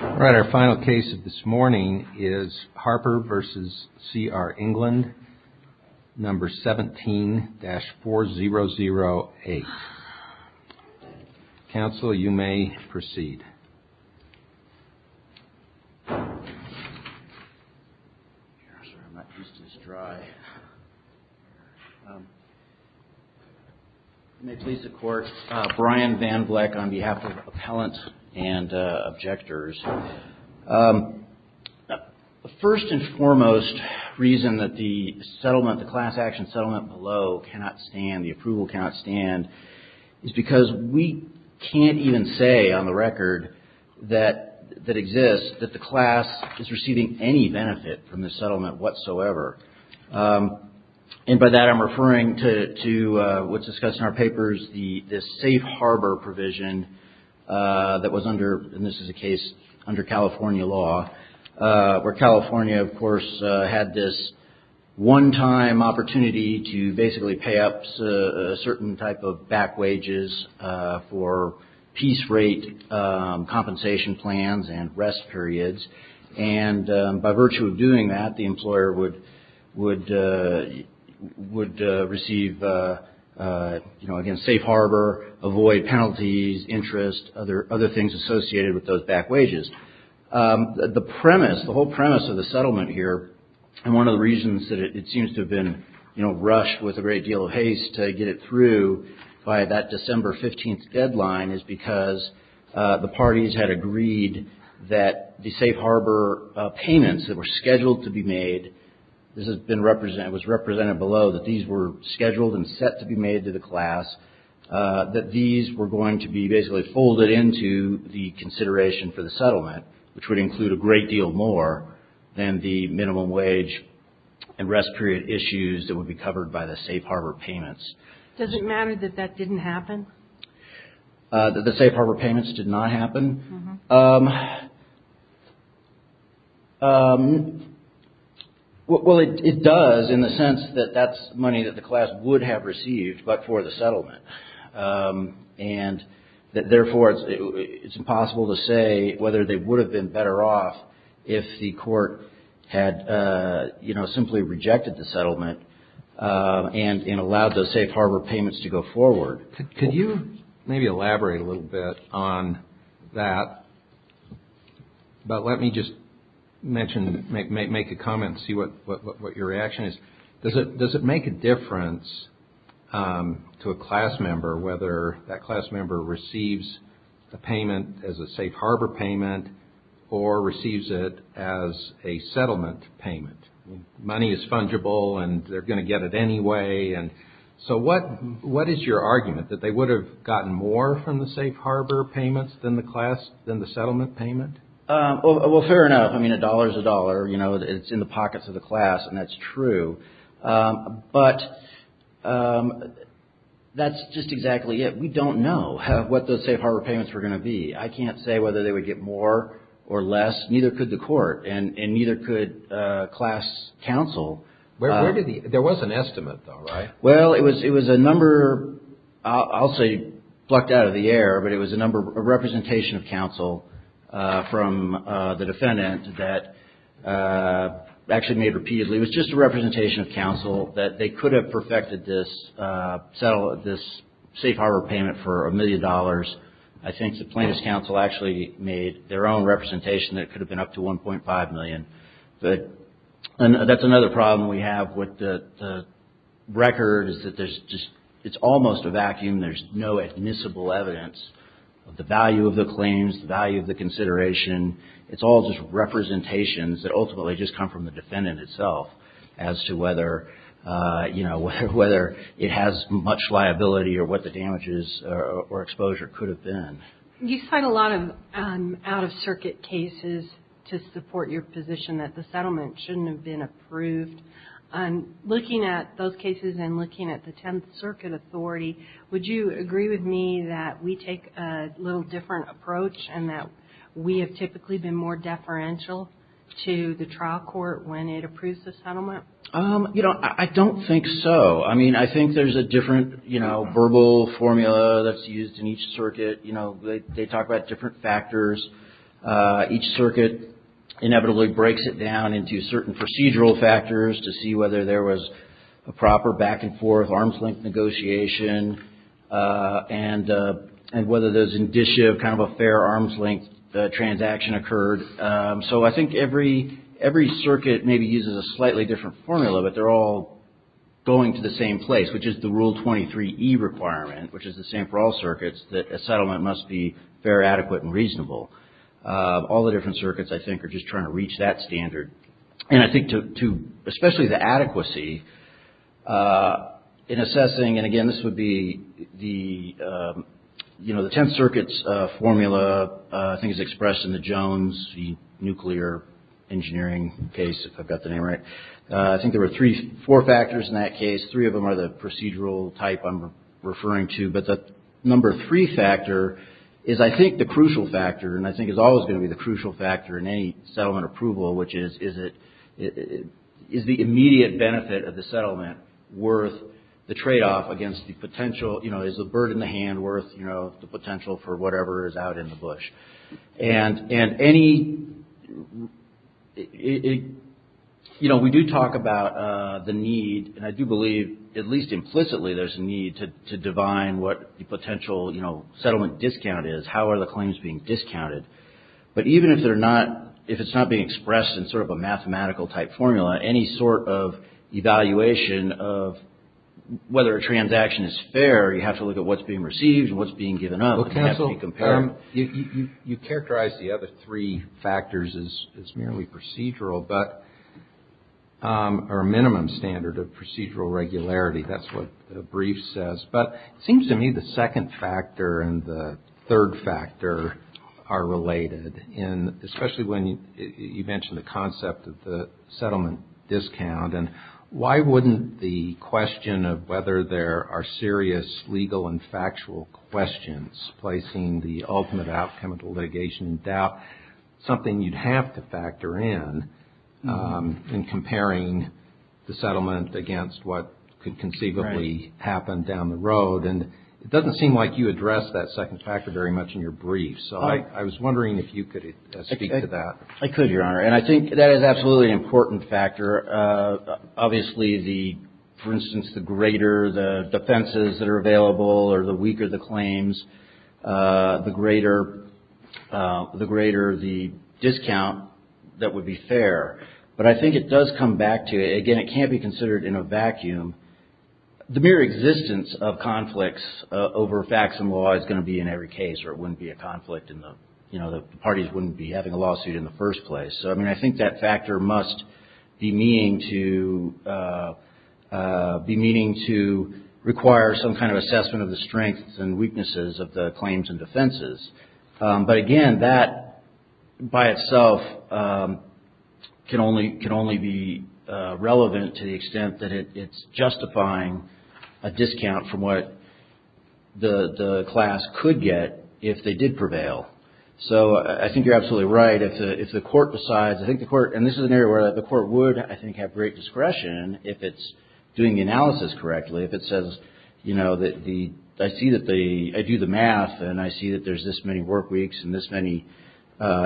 All right, our final case of this morning is Harper v. C.R. England, number 17-4008. Counsel, you may proceed. I'm not used to this dry. You may please support Brian Van Vleck on behalf of the appellant and objectors. The first and foremost reason that the settlement, the class action settlement below cannot stand, the approval cannot stand, is because we can't even say on the record that exists that the class is receiving any benefit from the settlement whatsoever. And by that I'm referring to what's discussed in our papers, the safe harbor provision that was under, and this is a case under California law, where California, of course, had this one-time opportunity to basically pay up a certain type of back wages for peace rate compensation plans and rest periods. And by virtue of doing that, the employer would receive, you know, again, safe harbor, avoid penalties, interest, other things associated with those back wages. The premise, the whole premise of the settlement here, and one of the reasons that it seems to have been, you know, rushed with a great deal of haste to get it through by that December 15th deadline, is because the parties had agreed that the safe harbor payments that were scheduled to be made, this has been represented, was represented below, that these were scheduled and set to be made to the class, that these were going to be basically folded into the consideration for the settlement, which would include a great deal more than the minimum wage and rest period issues that would be covered by the safe harbor payments. Does it matter that that didn't happen? That the safe harbor payments did not happen? Uh-huh. Well, it does in the sense that that's money that the class would have received, but for the settlement. And therefore, it's impossible to say whether they would have been better off if the court had, you know, simply rejected the settlement and allowed those safe harbor payments to go forward. Could you maybe elaborate a little bit on that? But let me just mention, make a comment and see what your reaction is. Does it make a difference to a class member whether that class member receives the payment as a safe harbor payment, or receives it as a settlement payment? Money is fungible and they're going to get it anyway. So what is your argument, that they would have gotten more from the safe harbor payments than the settlement payment? Well, fair enough. I mean, a dollar is a dollar. It's in the pockets of the class, and that's true. But that's just exactly it. We don't know what those safe harbor payments were going to be. I can't say whether they would get more or less. Neither could the court, and neither could class counsel. There was an estimate, though, right? Well, it was a number I'll say plucked out of the air, but it was a representation of counsel from the defendant that actually made repeatedly. It was just a representation of counsel that they could have perfected this safe harbor payment for a million dollars. I think the plaintiff's counsel actually made their own representation that could have been up to 1.5 million. But that's another problem we have with the record is that it's almost a vacuum. There's no admissible evidence of the value of the claims, the value of the consideration. It's all just representations that ultimately just come from the defendant itself as to whether it has much liability or what the damages or exposure could have been. You cite a lot of out-of-circuit cases to support your position that the settlement shouldn't have been approved. Looking at those cases and looking at the Tenth Circuit Authority, would you agree with me that we take a little different approach and that we have typically been more deferential to the trial court when it approves the settlement? I don't think so. I mean, I think there's a different verbal formula that's used in each circuit. They talk about different factors. Each circuit inevitably breaks it down into certain procedural factors to see whether there was a proper back-and-forth, arms-length negotiation, and whether there's indicia of kind of a fair arms-length transaction occurred. So I think every circuit maybe uses a slightly different formula, but they're all going to the same place, which is the Rule 23e requirement, which is the same for all circuits, that a settlement must be fair, adequate, and reasonable. All the different circuits, I think, are just trying to reach that standard. And I think, especially the adequacy in assessing, and again, this would be the Tenth Circuit's formula, I think it's expressed in the Jones, you know, the nuclear engineering case, if I've got the name right. I think there were three, four factors in that case. Three of them are the procedural type I'm referring to, but the number three factor is, I think, the crucial factor, and I think is always going to be the crucial factor in any settlement approval, which is, is it, is the immediate benefit of the settlement worth the trade-off against the potential, you know, is the bird in the hand worth, you know, the potential for whatever is out in the bush? And any, you know, we do talk about the need, and I do believe, at least implicitly, there's a need to divine what the potential, you know, settlement discount is, how are the claims being discounted. But even if they're not, if it's not being expressed in sort of a mathematical type formula, any sort of evaluation of whether a transaction is fair, you have to look at what's being received and what's being given up. You characterize the other three factors as merely procedural, but, or minimum standard of procedural regularity, that's what the brief says. But it seems to me the second factor and the third factor are related, and especially when you mentioned the concept of the settlement discount, and why wouldn't the question of whether there are serious legal and factual questions be considered? I mean, you're placing the ultimate outcome of the litigation in doubt, something you'd have to factor in, in comparing the settlement against what could conceivably happen down the road. And it doesn't seem like you address that second factor very much in your brief, so I was wondering if you could speak to that. I could, Your Honor, and I think that is absolutely an important factor. Obviously, the, for instance, the greater the defenses that are available or the weaker the claims, the greater the discount that would be fair. But I think it does come back to, again, it can't be considered in a vacuum. The mere existence of conflicts over facts and law is going to be in every case, or it wouldn't be a conflict in the, you know, the parties wouldn't be having a lawsuit in the first place. So, I mean, I think that factor must be meaning to require some kind of assessment of the strengths and weaknesses of the claims and defenses. But, again, that by itself can only be relevant to the extent that it's justifying a discount from what the class could get if they did prevail. So, I think you're absolutely right. If the court decides, I think the court, and this is an area where the court would, I think, have great discretion if it's doing the analysis correctly. If it says, you know, I see that they, I do the math and I see that there's this many work weeks and this many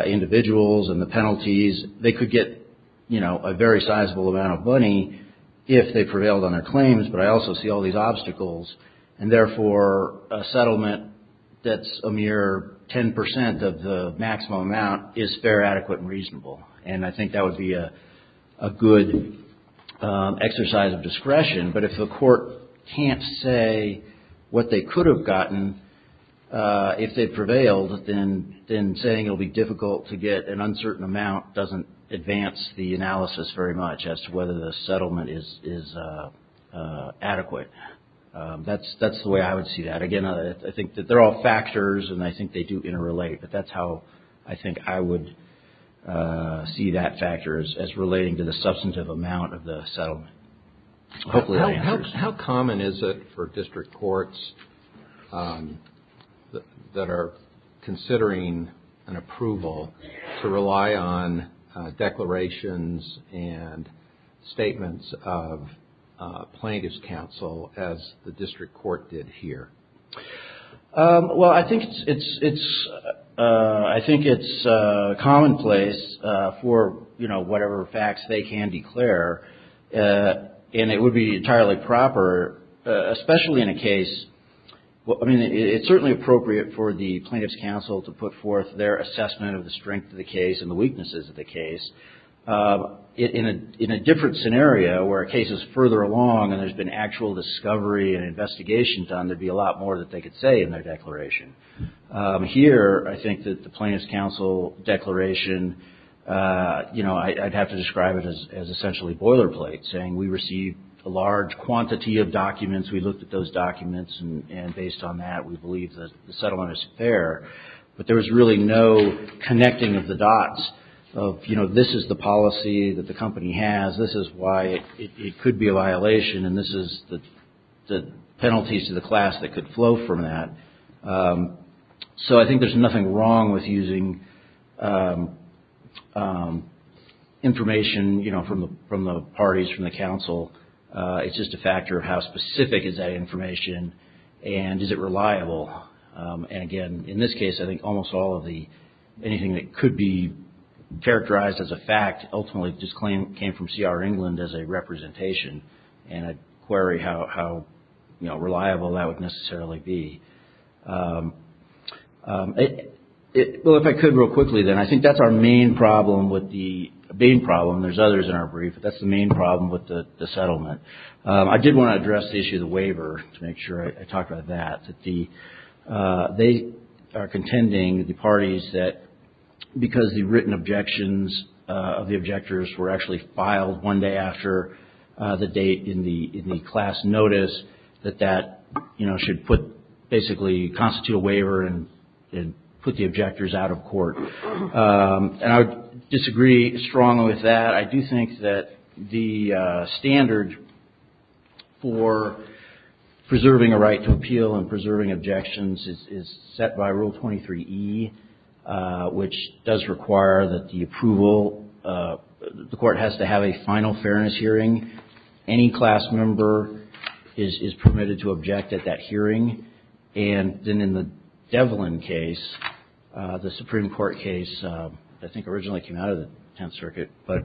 individuals and the penalties. They could get, you know, a very sizable amount of money if they prevailed on their claims, but I also see all these obstacles. And, therefore, a settlement that's a mere 10% of the maximum amount is fair, adequate, and reasonable. And I think that would be a good exercise of discretion. But if the court can't say what they could have gotten if they prevailed, then saying it will be difficult to get an uncertain amount doesn't advance the analysis very much as to whether the settlement is adequate. That's the way I would see that. Again, I think that they're all factors and I think they do interrelate, but that's how I think I would see that factor as relating to the substantive amount of the settlement. Hopefully that answers your question. How common is it for district courts that are considering an approval to rely on declarations and statements of plaintiff's counsel as the district court? Well, I think it's commonplace for, you know, whatever facts they can declare. And it would be entirely proper, especially in a case, I mean, it's certainly appropriate for the plaintiff's counsel to put forth their assessment of the strength of the case and the weaknesses of the case. In a different scenario where a case is further along and there's been actual discovery and investigation done, there'd be a lot more that they could say in their declaration. Here, I think that the plaintiff's counsel declaration, you know, I'd have to describe it as essentially boilerplate, saying we received a large quantity of documents. We looked at those documents and based on that, we believe that the settlement is fair. But there was really no connecting of the dots of, you know, this is the policy that the company has. This is why it could be a violation and this is the penalties to the class that could flow from that. So I think there's nothing wrong with using information, you know, from the parties, from the counsel. It's just a factor of how specific is that information and is it reliable. And again, in this case, I think almost all of the, anything that could be characterized as a fact ultimately just came from C.R. England as a representation and I'd query how, you know, reliable that would necessarily be. Well, if I could real quickly then, I think that's our main problem with the, the main problem, there's others in our brief, but that's the main problem with the settlement. I did want to address the issue of the waiver to make sure I talked about that. They are contending, the parties, that because the written objections of the objectors were actually filed one day after the date in the class notice, that that, you know, should put, basically constitute a waiver and put the objectors out of court. And I would disagree strongly with that. I do think that the standard for preserving a right to appeal and preserving objections is set by Rule 23E, which does require that the approval, the court has to have a final fairness hearing. Any class member is permitted to object at that hearing. And then in the Devlin case, the Supreme Court case, I think originally came out of the Tenth Circuit, but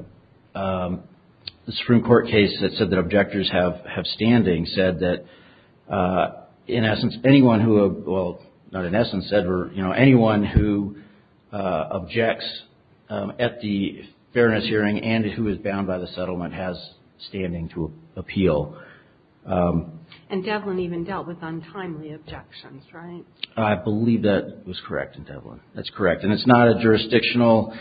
the Supreme Court case that said that objectors have standing said that, in essence, anyone who, well, not in essence said, or, you know, anyone who objects at the fairness hearing and who is bound by the settlement has standing to appeal. And Devlin even dealt with untimely objections, right? I believe that was correct in Devlin. That's correct. And it's not a jurisdictional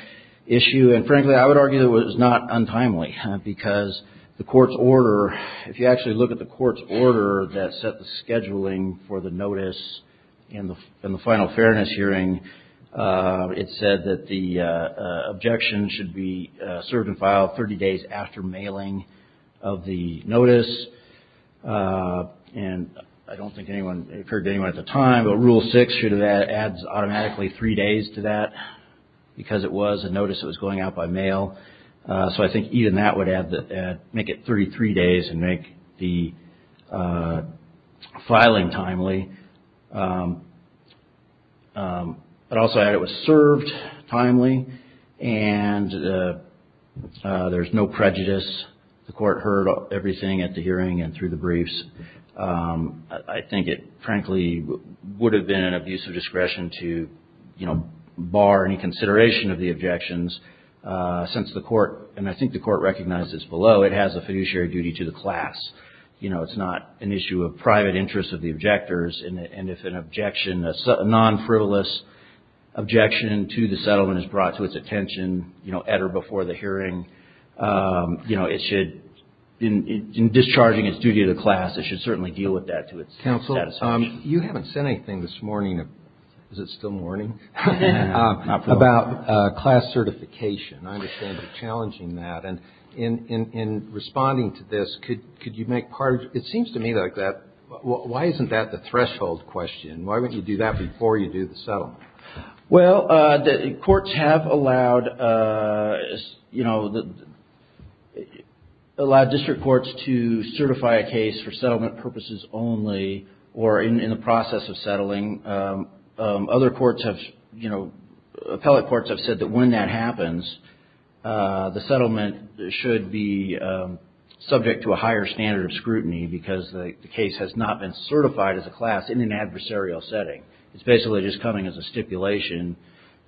issue. And frankly, I would argue that it was not untimely because the court's order, if you actually look at the court's order that set the scheduling for the notice and the final fairness hearing, it said that the objection should be served and filed 30 days after mailing of the notice. And I don't think anyone, it occurred to anyone at the time, but Rule 6 should have added automatically three days to that because it was a notice that was going out by mail. So I think even that would add, make it 33 days and make the filing timely. But also add it was served timely and there's no prejudice. The court heard everything at the hearing and through the briefs. I think it, frankly, would have been an abuse of discretion to, you know, bar any consideration of the objections since the court, and I think the court recognized this below, it has a fiduciary duty to the class. You know, it's not an issue of private interest of the objectors. And if an objection, a non-frivolous objection to the settlement is brought to its attention, you know, at or before the hearing, you know, it's not an issue of private interest to the class. So it should, in discharging its duty to the class, it should certainly deal with that to its satisfaction. Counsel, you haven't said anything this morning. Is it still morning? About class certification. I understand you're challenging that. And in responding to this, could you make part of, it seems to me like that, why isn't that the threshold question? Why wouldn't you do that before you do the settlement? Well, the courts have allowed, you know, allowed district courts to certify a case for settlement purposes only or in the process of settling. Other courts have, you know, appellate courts have said that when that happens, the settlement does not apply. The settlement should be subject to a higher standard of scrutiny because the case has not been certified as a class in an adversarial setting. It's basically just coming as a stipulation,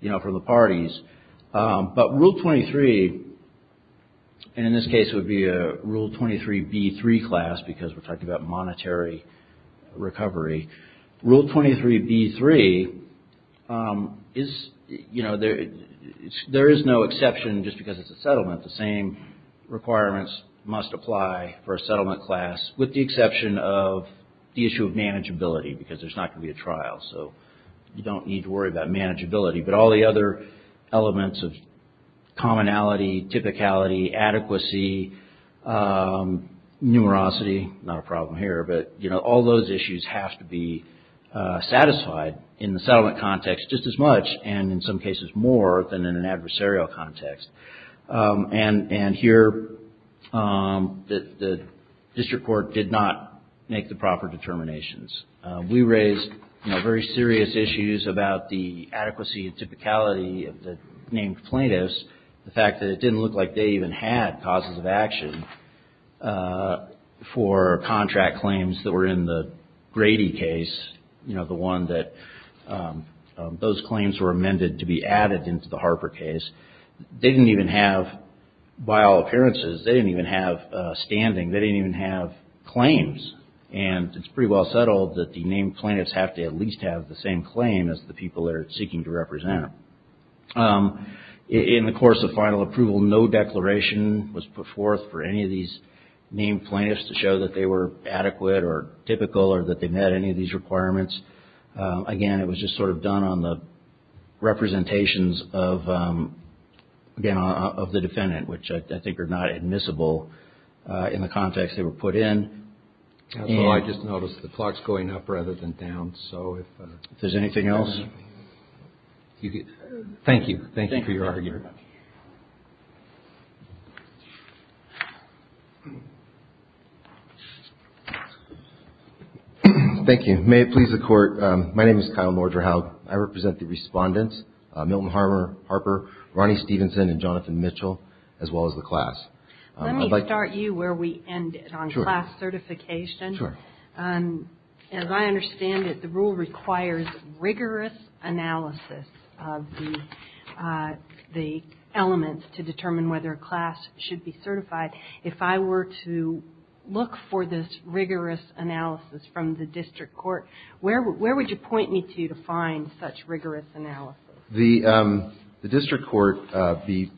you know, for the parties. But Rule 23, and in this case it would be a Rule 23B3 class because we're talking about monetary recovery. Rule 23B3 is, you know, there is no exception just because it's a settlement. Requirements must apply for a settlement class with the exception of the issue of manageability because there's not going to be a trial. So you don't need to worry about manageability. But all the other elements of commonality, typicality, adequacy, numerosity, not a problem here. But, you know, all those issues have to be satisfied in the settlement context just as much and in some cases more than in an adversarial context. And here the district court did not make the proper determinations. We raised, you know, very serious issues about the adequacy and typicality of the named plaintiffs. The fact that it didn't look like they even had causes of action for contract claims that were in the Grady case, you know, the one that those didn't even have, by all appearances, they didn't even have standing. They didn't even have claims. And it's pretty well settled that the named plaintiffs have to at least have the same claim as the people they're seeking to represent. In the course of final approval, no declaration was put forth for any of these named plaintiffs to show that they were adequate or typical or that they met any of these requirements. Again, it was just sort of done on the representations of, again, of the defendant, which I think are not admissible in the context they were put in. And so I just noticed the clock's going up rather than down, so if there's anything else. Thank you. Thank you for your argument. Thank you. Let me start you where we ended on class certification. Sure. As I understand it, the rule requires rigorous analysis of the elements to determine whether a class should be certified. If I were to look for this rigorous analysis from the district court, where would you point me to to find such rigorous analysis? The district court, the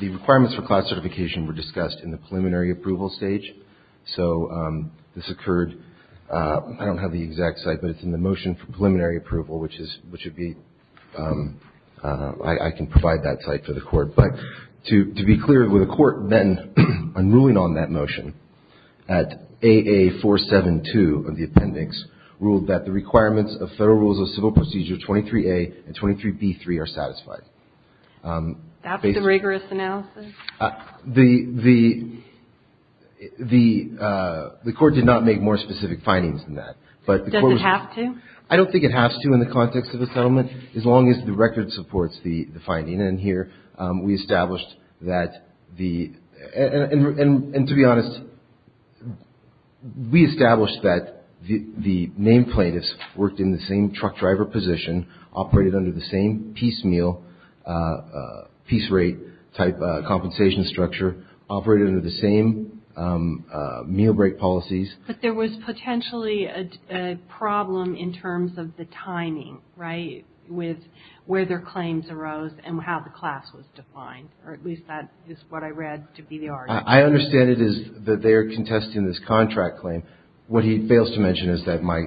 requirements for class certification were discussed in the preliminary approval stage. So this occurred – I don't have the exact site, but it's in the motion for preliminary approval, which would be – I can provide that site for the court. But to be clear, the court then, in ruling on that motion, at AA472 of the appendix, ruled that the requirements of Federal Rules of Civil Procedure 23a and 23b3 are satisfied. That's the rigorous analysis? The court did not make more specific findings than that. Does it have to? I don't think it has to in the context of a settlement, as long as the record supports the finding. And here we established that the – and to be honest, we established that the named plaintiffs worked in the same truck driver position, operated under the same piece meal – piece rate type compensation structure, operated under the same meal break policies. But there was potentially a problem in terms of the timing, right? With where their claims arose and how the class was defined, or at least that is what I read to be the argument. I understand it is that they are contesting this contract claim. What he fails to mention is that my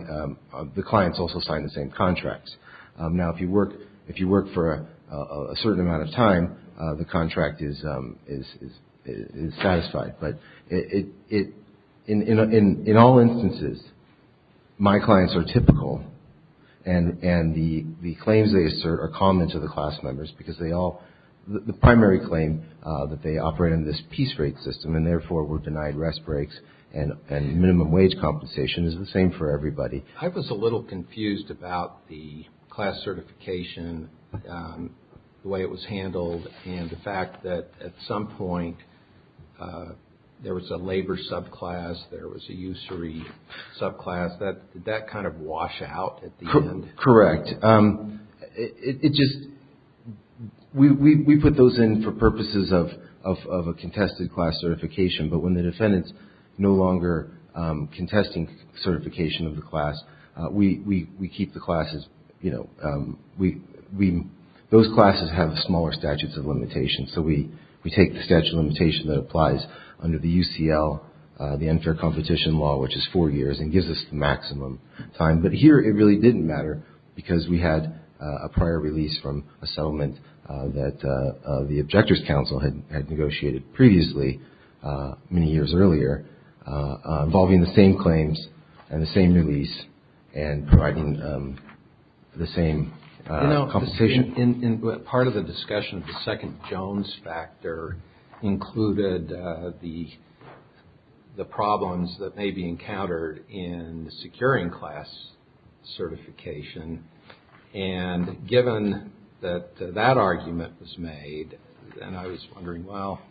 – the clients also signed the same contracts. Now, if you work – if you work for a certain amount of time, the contract is satisfied. But it – in all instances, my clients are typical, and the claims they assert are common to the class members, because they all – the primary claim, that they operate under this piece rate system, and therefore were denied rest breaks, and minimum wage compensation is the same for everybody. I was a little confused about the class certification, the way it was handled, and the fact that at some point there was a labor subclass, there was a usury subclass. Did that kind of wash out at the end? Correct. It just – we put those in for purposes of a contested class certification, but when the defendant is no longer contesting certification of the class, we keep the classes – those classes have smaller statutes of limitations, so we take the statute of limitation that applies under the UCL, the unfair competition law, which is four years, and gives us the maximum time. But here it really didn't matter, because we had a prior release from a settlement that the Objectors' Council had negotiated previously, many years earlier, involving the same claims and the same release and providing the same compensation. You know, part of the discussion of the second Jones factor included the problems that may be encountered in securing class certification, and given that that argument was made, and I was wondering, well,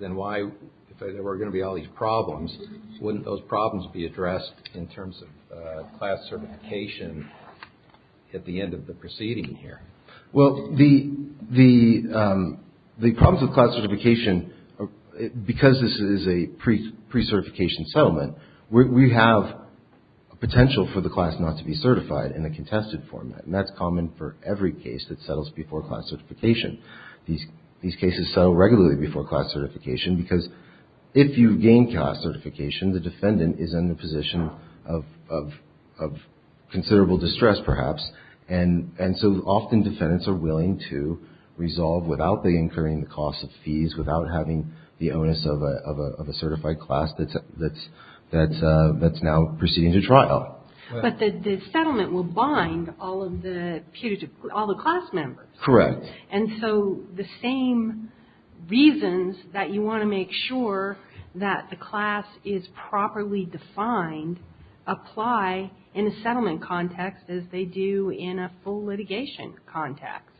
then why – if there were going to be all these problems, wouldn't those problems be addressed in terms of class certification at the end of the proceeding here? Well, the problems with class certification, because this is a pre-certification settlement, we have a potential for the class not to be certified in a contested format, and that's common for every case that settles before class certification. These cases settle regularly before class certification, because if you gain class certification, the defendant is in the position of considerable distress, perhaps, and so often defendants are willing to resolve without incurring the cost of fees, without having the onus of a certified class that's now proceeding to trial. But the settlement will bind all of the class members. Correct. And so the same reasons that you want to make sure that the class is properly defined apply in a settlement context as they do in a full litigation context.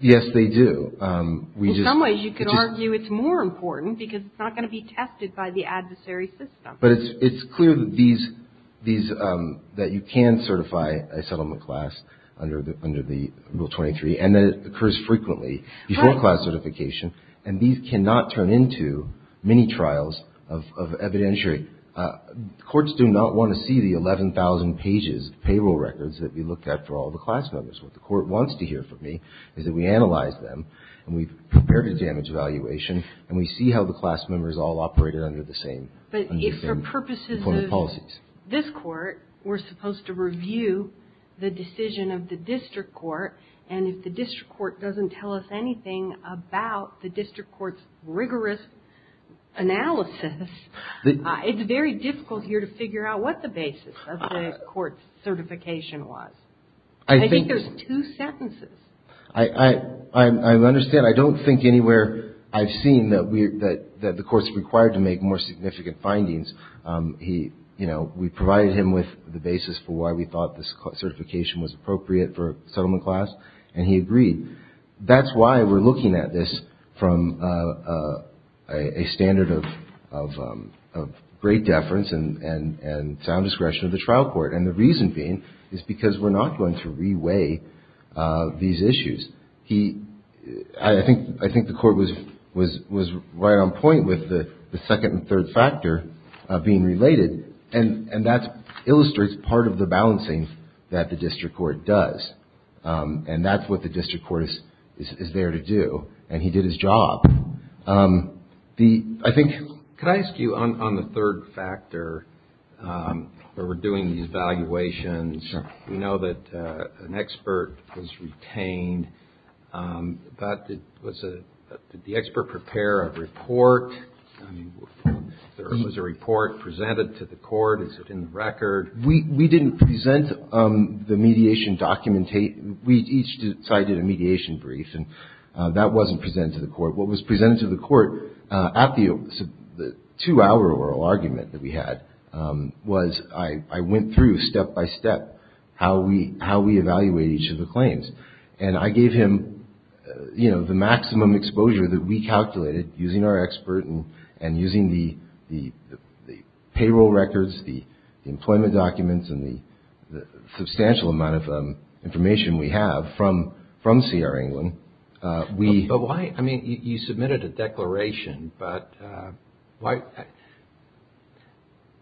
Yes, they do. In some ways, you could argue it's more important, because it's not going to be tested by the adversary system. But it's clear that you can certify a settlement class under Rule 23, and that it occurs frequently before class certification, and these cannot turn into mini-trials of evidentiary. Courts do not want to see the 11,000 pages of payroll records that we looked at for all the class members. What the Court wants to hear from me is that we analyze them, and we've prepared a damage evaluation, and we see how the class members all operated under the same employment policies. But if, for purposes of this Court, we're supposed to review the decision of the district court, and if the district court doesn't tell us anything about the district court's rigorous analysis, it's very difficult here to figure out what the basis of the Court's certification was. I think there's two sentences. I understand. I don't think anywhere I've seen that the Court's required to make more significant findings. We provided him with the basis for why we thought this certification was appropriate for a settlement class, and he agreed. That's why we're looking at this from a standard of great deference and sound discretion of the trial court, and the reason being is because we're not going to re-weigh these issues. I think the Court was right on point with the second and third factor being related, and that illustrates part of the balancing that the district court does, and that's what the district court is there to do, and he did his job. Could I ask you, on the third factor, where we're doing these valuations, we know that an expert was retained. Did the expert prepare a report? Was a report presented to the Court? Is it in the record? We didn't present the mediation document. We each cited a mediation brief, and that wasn't presented to the Court. What was presented to the Court at the two-hour oral argument that we had was I went through, step by step, how we evaluate each of the claims, and I gave him the maximum exposure that we calculated using our expert and using the payroll records, the employment documents, and the substantial amount of information we have from CR England. But why? I mean, you submitted a declaration, but why?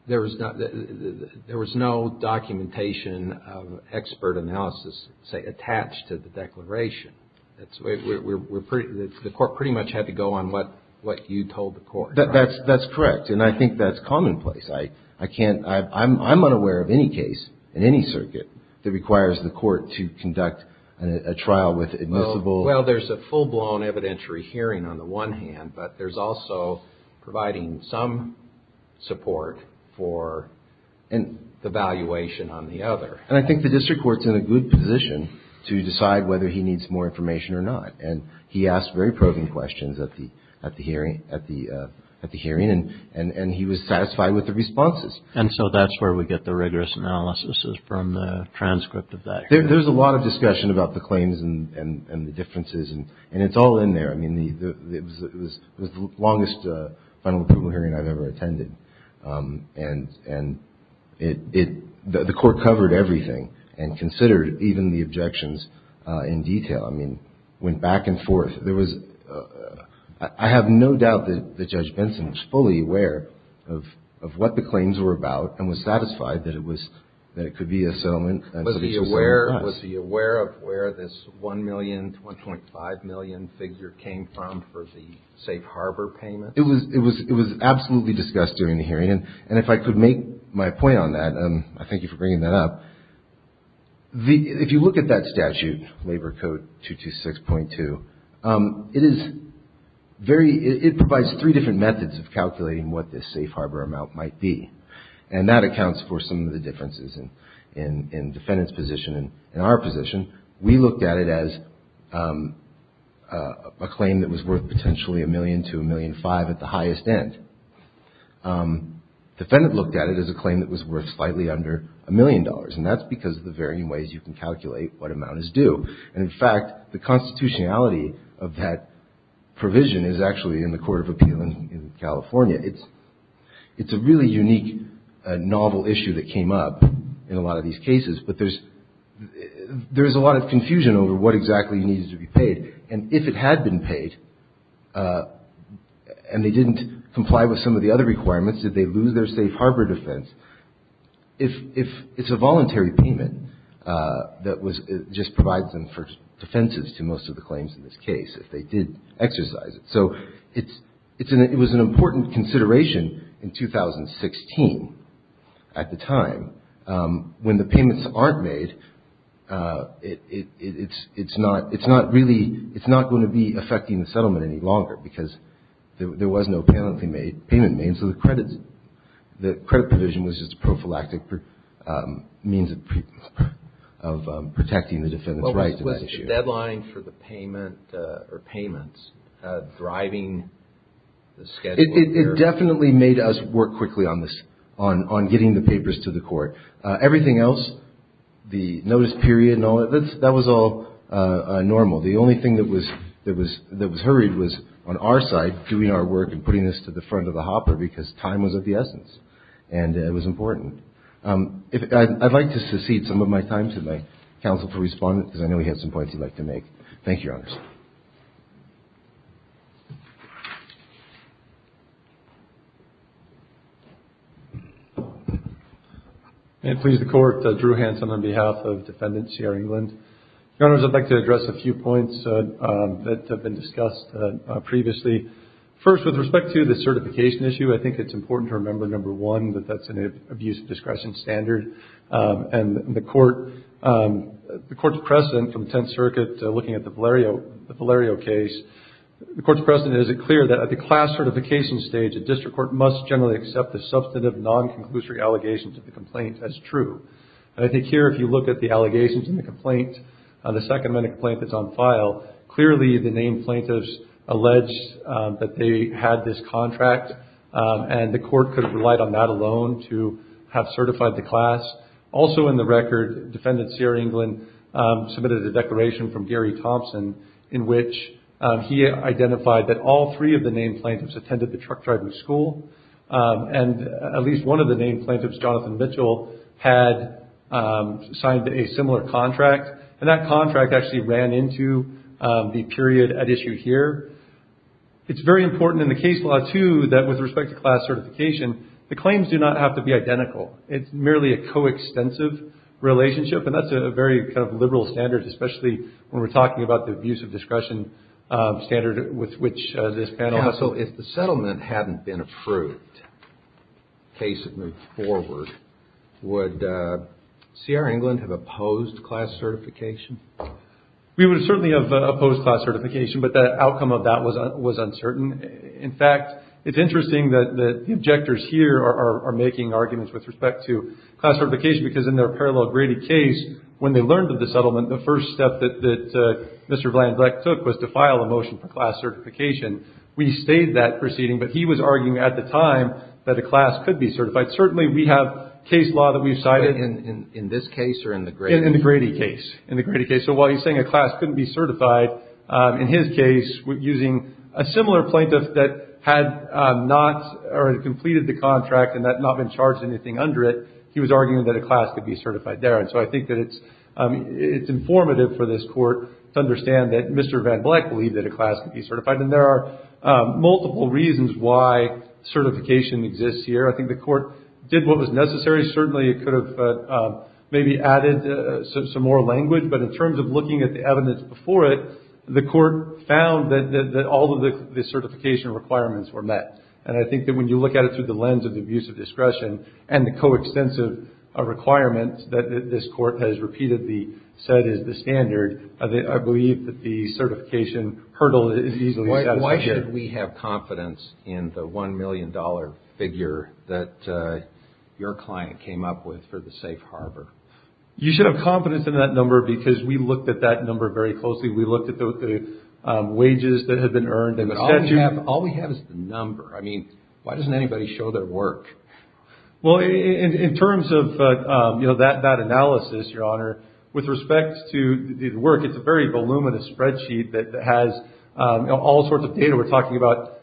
There was no documentation of expert analysis, say, attached to the declaration. The Court pretty much had to go on what you told the Court. That's correct, and I think that's commonplace. I'm unaware of any case in any circuit that requires the Court to conduct a trial with admissible... Well, there's a full-blown evidentiary hearing on the one hand, but there's also providing some support for the valuation on the other. And I think the district court's in a good position to decide whether he needs more information or not. And he asked very probing questions at the hearing, and he was satisfied with the responses. And so that's where we get the rigorous analysis is from the transcript of that hearing. There's a lot of discussion about the claims and the differences, and it's all in there. I mean, it was the longest final approval hearing I've ever attended, and the Court covered everything and considered even the objections in detail. I mean, it went back and forth. I have no doubt that Judge Benson was fully aware of what the claims were about and was satisfied that it could be a settlement. Was he aware of where this $1 million to $1.5 million figure came from for the safe harbor payment? It was absolutely discussed during the hearing, and if I could make my point on that, I thank you for bringing that up. If you look at that statute, Labor Code 226.2, it provides three different methods of calculating what this safe harbor amount might be. And that accounts for some of the differences in defendant's position and our position. We looked at it as a claim that was worth potentially $1 million to $1.5 million at the highest end. Defendant looked at it as a claim that was worth slightly under $1 million, and that's because of the varying ways you can calculate what amount is due. And, in fact, the constitutionality of that provision is actually in the Court of Appeal in California. It's a really unique, novel issue that came up in a lot of these cases, but there's a lot of confusion over what exactly needed to be paid. And if it had been paid, and they didn't comply with some of the other requirements, did they lose their safe harbor defense? It's a voluntary payment that just provides them for defenses to most of the claims in this case, if they did exercise it. So it was an important consideration in 2016 at the time. When the payments aren't made, it's not going to be affecting the settlement any longer because there was no payment made. So the credit provision was just a prophylactic means of protecting the defendant's rights to that issue. Was the deadline for the payment or payments driving the schedule here? It definitely made us work quickly on this, on getting the papers to the court. Everything else, the notice period and all that, that was all normal. The only thing that was hurried was, on our side, doing our work and putting this to the front of the hopper because time was of the essence and it was important. I'd like to secede some of my time to my counsel for response because I know he had some points he'd like to make. Thank you, Your Honors. May it please the Court, Drew Hanson on behalf of Defendant Sierra England. Your Honors, I'd like to address a few points that have been discussed previously. First, with respect to the certification issue, I think it's important to remember, number one, that that's an abuse of discretion standard. The Court's precedent from the Tenth Circuit looking at the Valerio case, the Court's precedent is it clear that at the class certification stage, a district court must generally accept the substantive non-conclusory allegations of the complaint as true. I think here, if you look at the allegations in the complaint, the second amendment complaint that's on file, clearly the named plaintiffs alleged that they had this contract and the Court could have relied on that alone to have certified the class. Also in the record, Defendant Sierra England submitted a declaration from Gary Thompson in which he identified that all three of the named plaintiffs attended the truck driving school and at least one of the named plaintiffs, Jonathan Mitchell, had signed a similar contract and that contract actually ran into the period at issue here. It's very important in the case law, too, that with respect to class certification, the claims do not have to be identical. It's merely a co-extensive relationship and that's a very kind of liberal standard, especially when we're talking about the abuse of discretion standard with which this panel has... Would Sierra England have opposed class certification? We would certainly have opposed class certification, but the outcome of that was uncertain. In fact, it's interesting that the objectors here are making arguments with respect to class certification because in their parallel graded case, when they learned of the settlement, the first step that Mr. Vlandek took was to file a motion for class certification. We stayed that proceeding, but he was arguing at the time that a class could be certified. Certainly, we have case law that we've cited. In the Grady case. So while he's saying a class couldn't be certified, in his case, using a similar plaintiff that had not completed the contract and had not been charged anything under it, he was arguing that a class could be certified there. So I think that it's informative for this court to understand that Mr. Vlandek believed that a class could be certified. And there are multiple reasons why certification exists here. I think the court did what was necessary. Certainly, it could have maybe added some more language, but in terms of looking at the evidence before it, the court found that all of the certification requirements were met. And I think that when you look at it through the lens of the abuse of discretion and the coextensive requirements that this court has repeatedly said is the standard, I believe that the certification hurdle is easily satisfied. Why should we have confidence in the $1 million figure that your client came up with for the safe harbor? You should have confidence in that number because we looked at that number very closely. We looked at the wages that had been earned. All we have is the number. I mean, why doesn't anybody show their work? Well, in terms of that analysis, Your Honor, with respect to the work, it's a very voluminous spreadsheet that has all sorts of data. We're talking about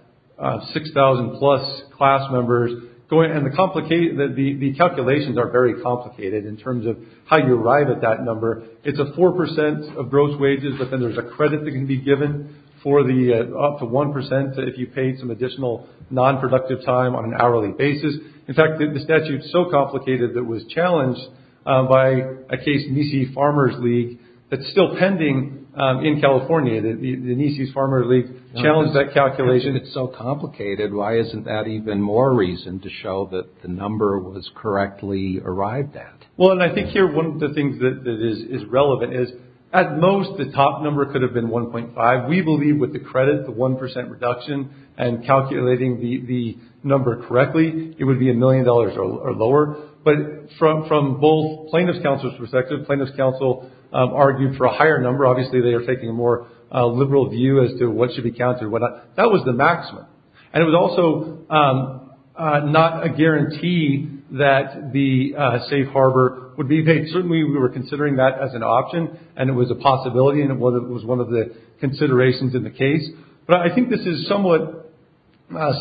6,000-plus class members. The calculations are very complicated in terms of how you arrive at that number. It's a 4% of gross wages, but then there's a credit that can be given for the up to 1% if you paid some additional nonproductive time on an hourly basis. In fact, the statute is so complicated that it was challenged by a case, Nisei Farmers League, that's still pending in California. The Nisei Farmers League challenged that calculation. It's so complicated. Why isn't that even more reason to show that the number was correctly arrived at? Well, and I think here one of the things that is relevant is at most the top number could have been 1.5. We believe with the credit, the 1% reduction, and calculating the number correctly, it would be a million dollars or lower, but from both plaintiff's counsel's perspective, plaintiff's counsel argued for a higher number. Obviously, they are taking a more liberal view as to what should be counted. That was the maximum, and it was also not a guarantee that the safe harbor would be paid. Certainly, we were considering that as an option, and it was a possibility, and it was one of the considerations in the case, but I think this is somewhat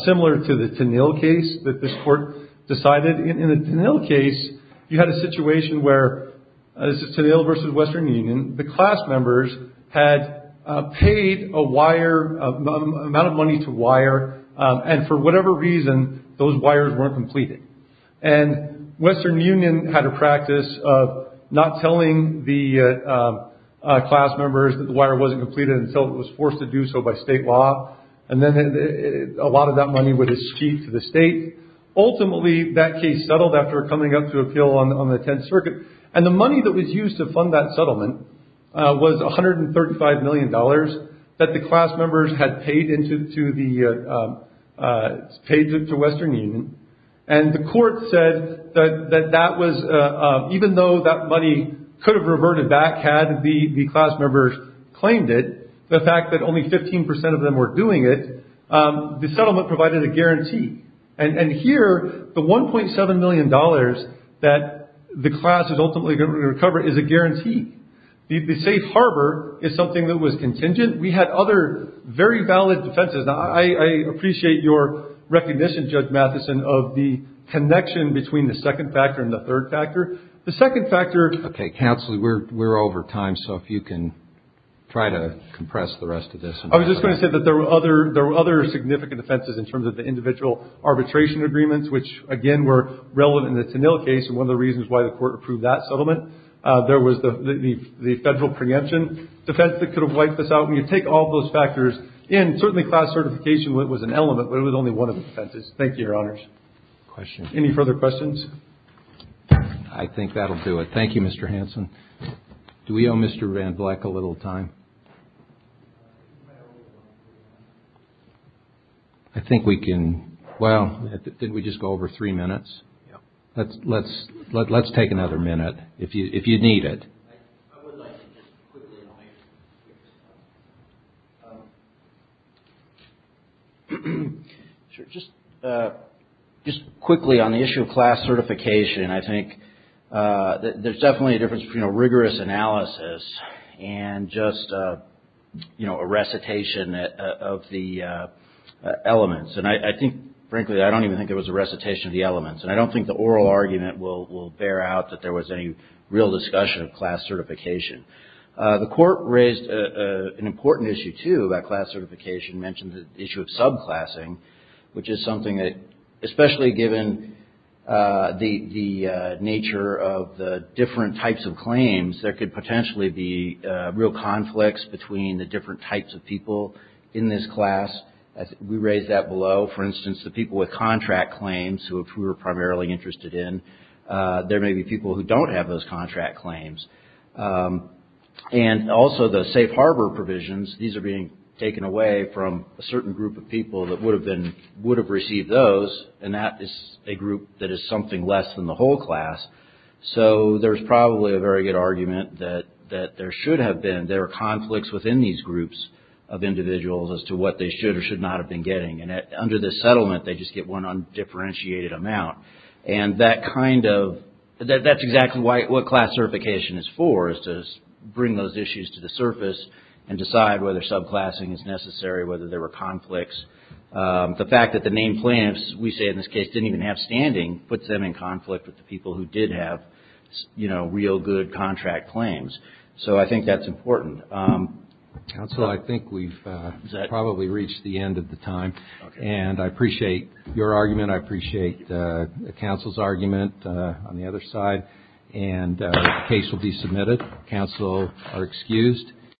similar to the Tennille case that this court decided. In the Tennille case, you had a situation where, this is Tennille versus Western Union, the class members had paid a wire, an amount of money to wire, and for whatever reason, those wires weren't completed. Western Union had a practice of not telling the class members that the wire wasn't completed until it was forced to do so by state law, and then a lot of that money would escape to the state. Ultimately, that case settled after coming up to appeal on the Tenth Circuit, and the money that was used to fund that settlement was $135 million that the class members had paid to Western Union, and the court said that even though that money could have reverted back had the class members claimed it, the fact that only 15 percent of them were doing it, the settlement provided a guarantee, and here, the $1.7 million that the class is ultimately going to recover is a guarantee. The safe harbor is something that was contingent. We had other very valid defenses. Now, I appreciate your recognition, Judge Matheson, of the connection between the second factor and the third factor. The second factor- Okay, counsel, we're over time, so if you can try to compress the rest of this. I was just going to say that there were other significant defenses in terms of the individual arbitration agreements, which, again, were relevant in the Tennille case, and one of the reasons why the court approved that settlement. There was the federal preemption defense that could have wiped this out. You take all those factors, and certainly class certification was an element, but it was only one of the defenses. Thank you, Your Honors. Any further questions? I think that'll do it. Thank you, Mr. Hanson. Do we owe Mr. Van Vleck a little time? I think we can- well, didn't we just go over three minutes? Let's take another minute if you need it. I would like to just quickly- Just quickly on the issue of class certification, I think there's definitely a difference between a rigorous analysis and just a recitation of the elements. And I think, frankly, I don't even think it was a recitation of the elements, and I don't think the oral argument will bear out that there was any real discussion of class certification. The court raised an important issue, too, about class certification, mentioned the issue of subclassing, which is something that, especially given the nature of the different types of claims, there could potentially be real conflicts between the different types of people in this class. We raised that below. For instance, the people with contract claims, who we're primarily interested in, there may be people who don't have those contract claims. And also the safe harbor provisions, these are being taken away from a certain group of people that would have received those, and that is a group that is something less than the whole class. So there's probably a very good argument that there should have been- as to what they should or should not have been getting. And under this settlement, they just get one undifferentiated amount. And that's exactly what class certification is for, is to bring those issues to the surface and decide whether subclassing is necessary, whether there were conflicts. The fact that the main plaintiffs, we say in this case, didn't even have standing, puts them in conflict with the people who did have real good contract claims. So I think that's important. Counsel, I think we've probably reached the end of the time. And I appreciate your argument. I appreciate the counsel's argument on the other side. And the case will be submitted. Counsel are excused.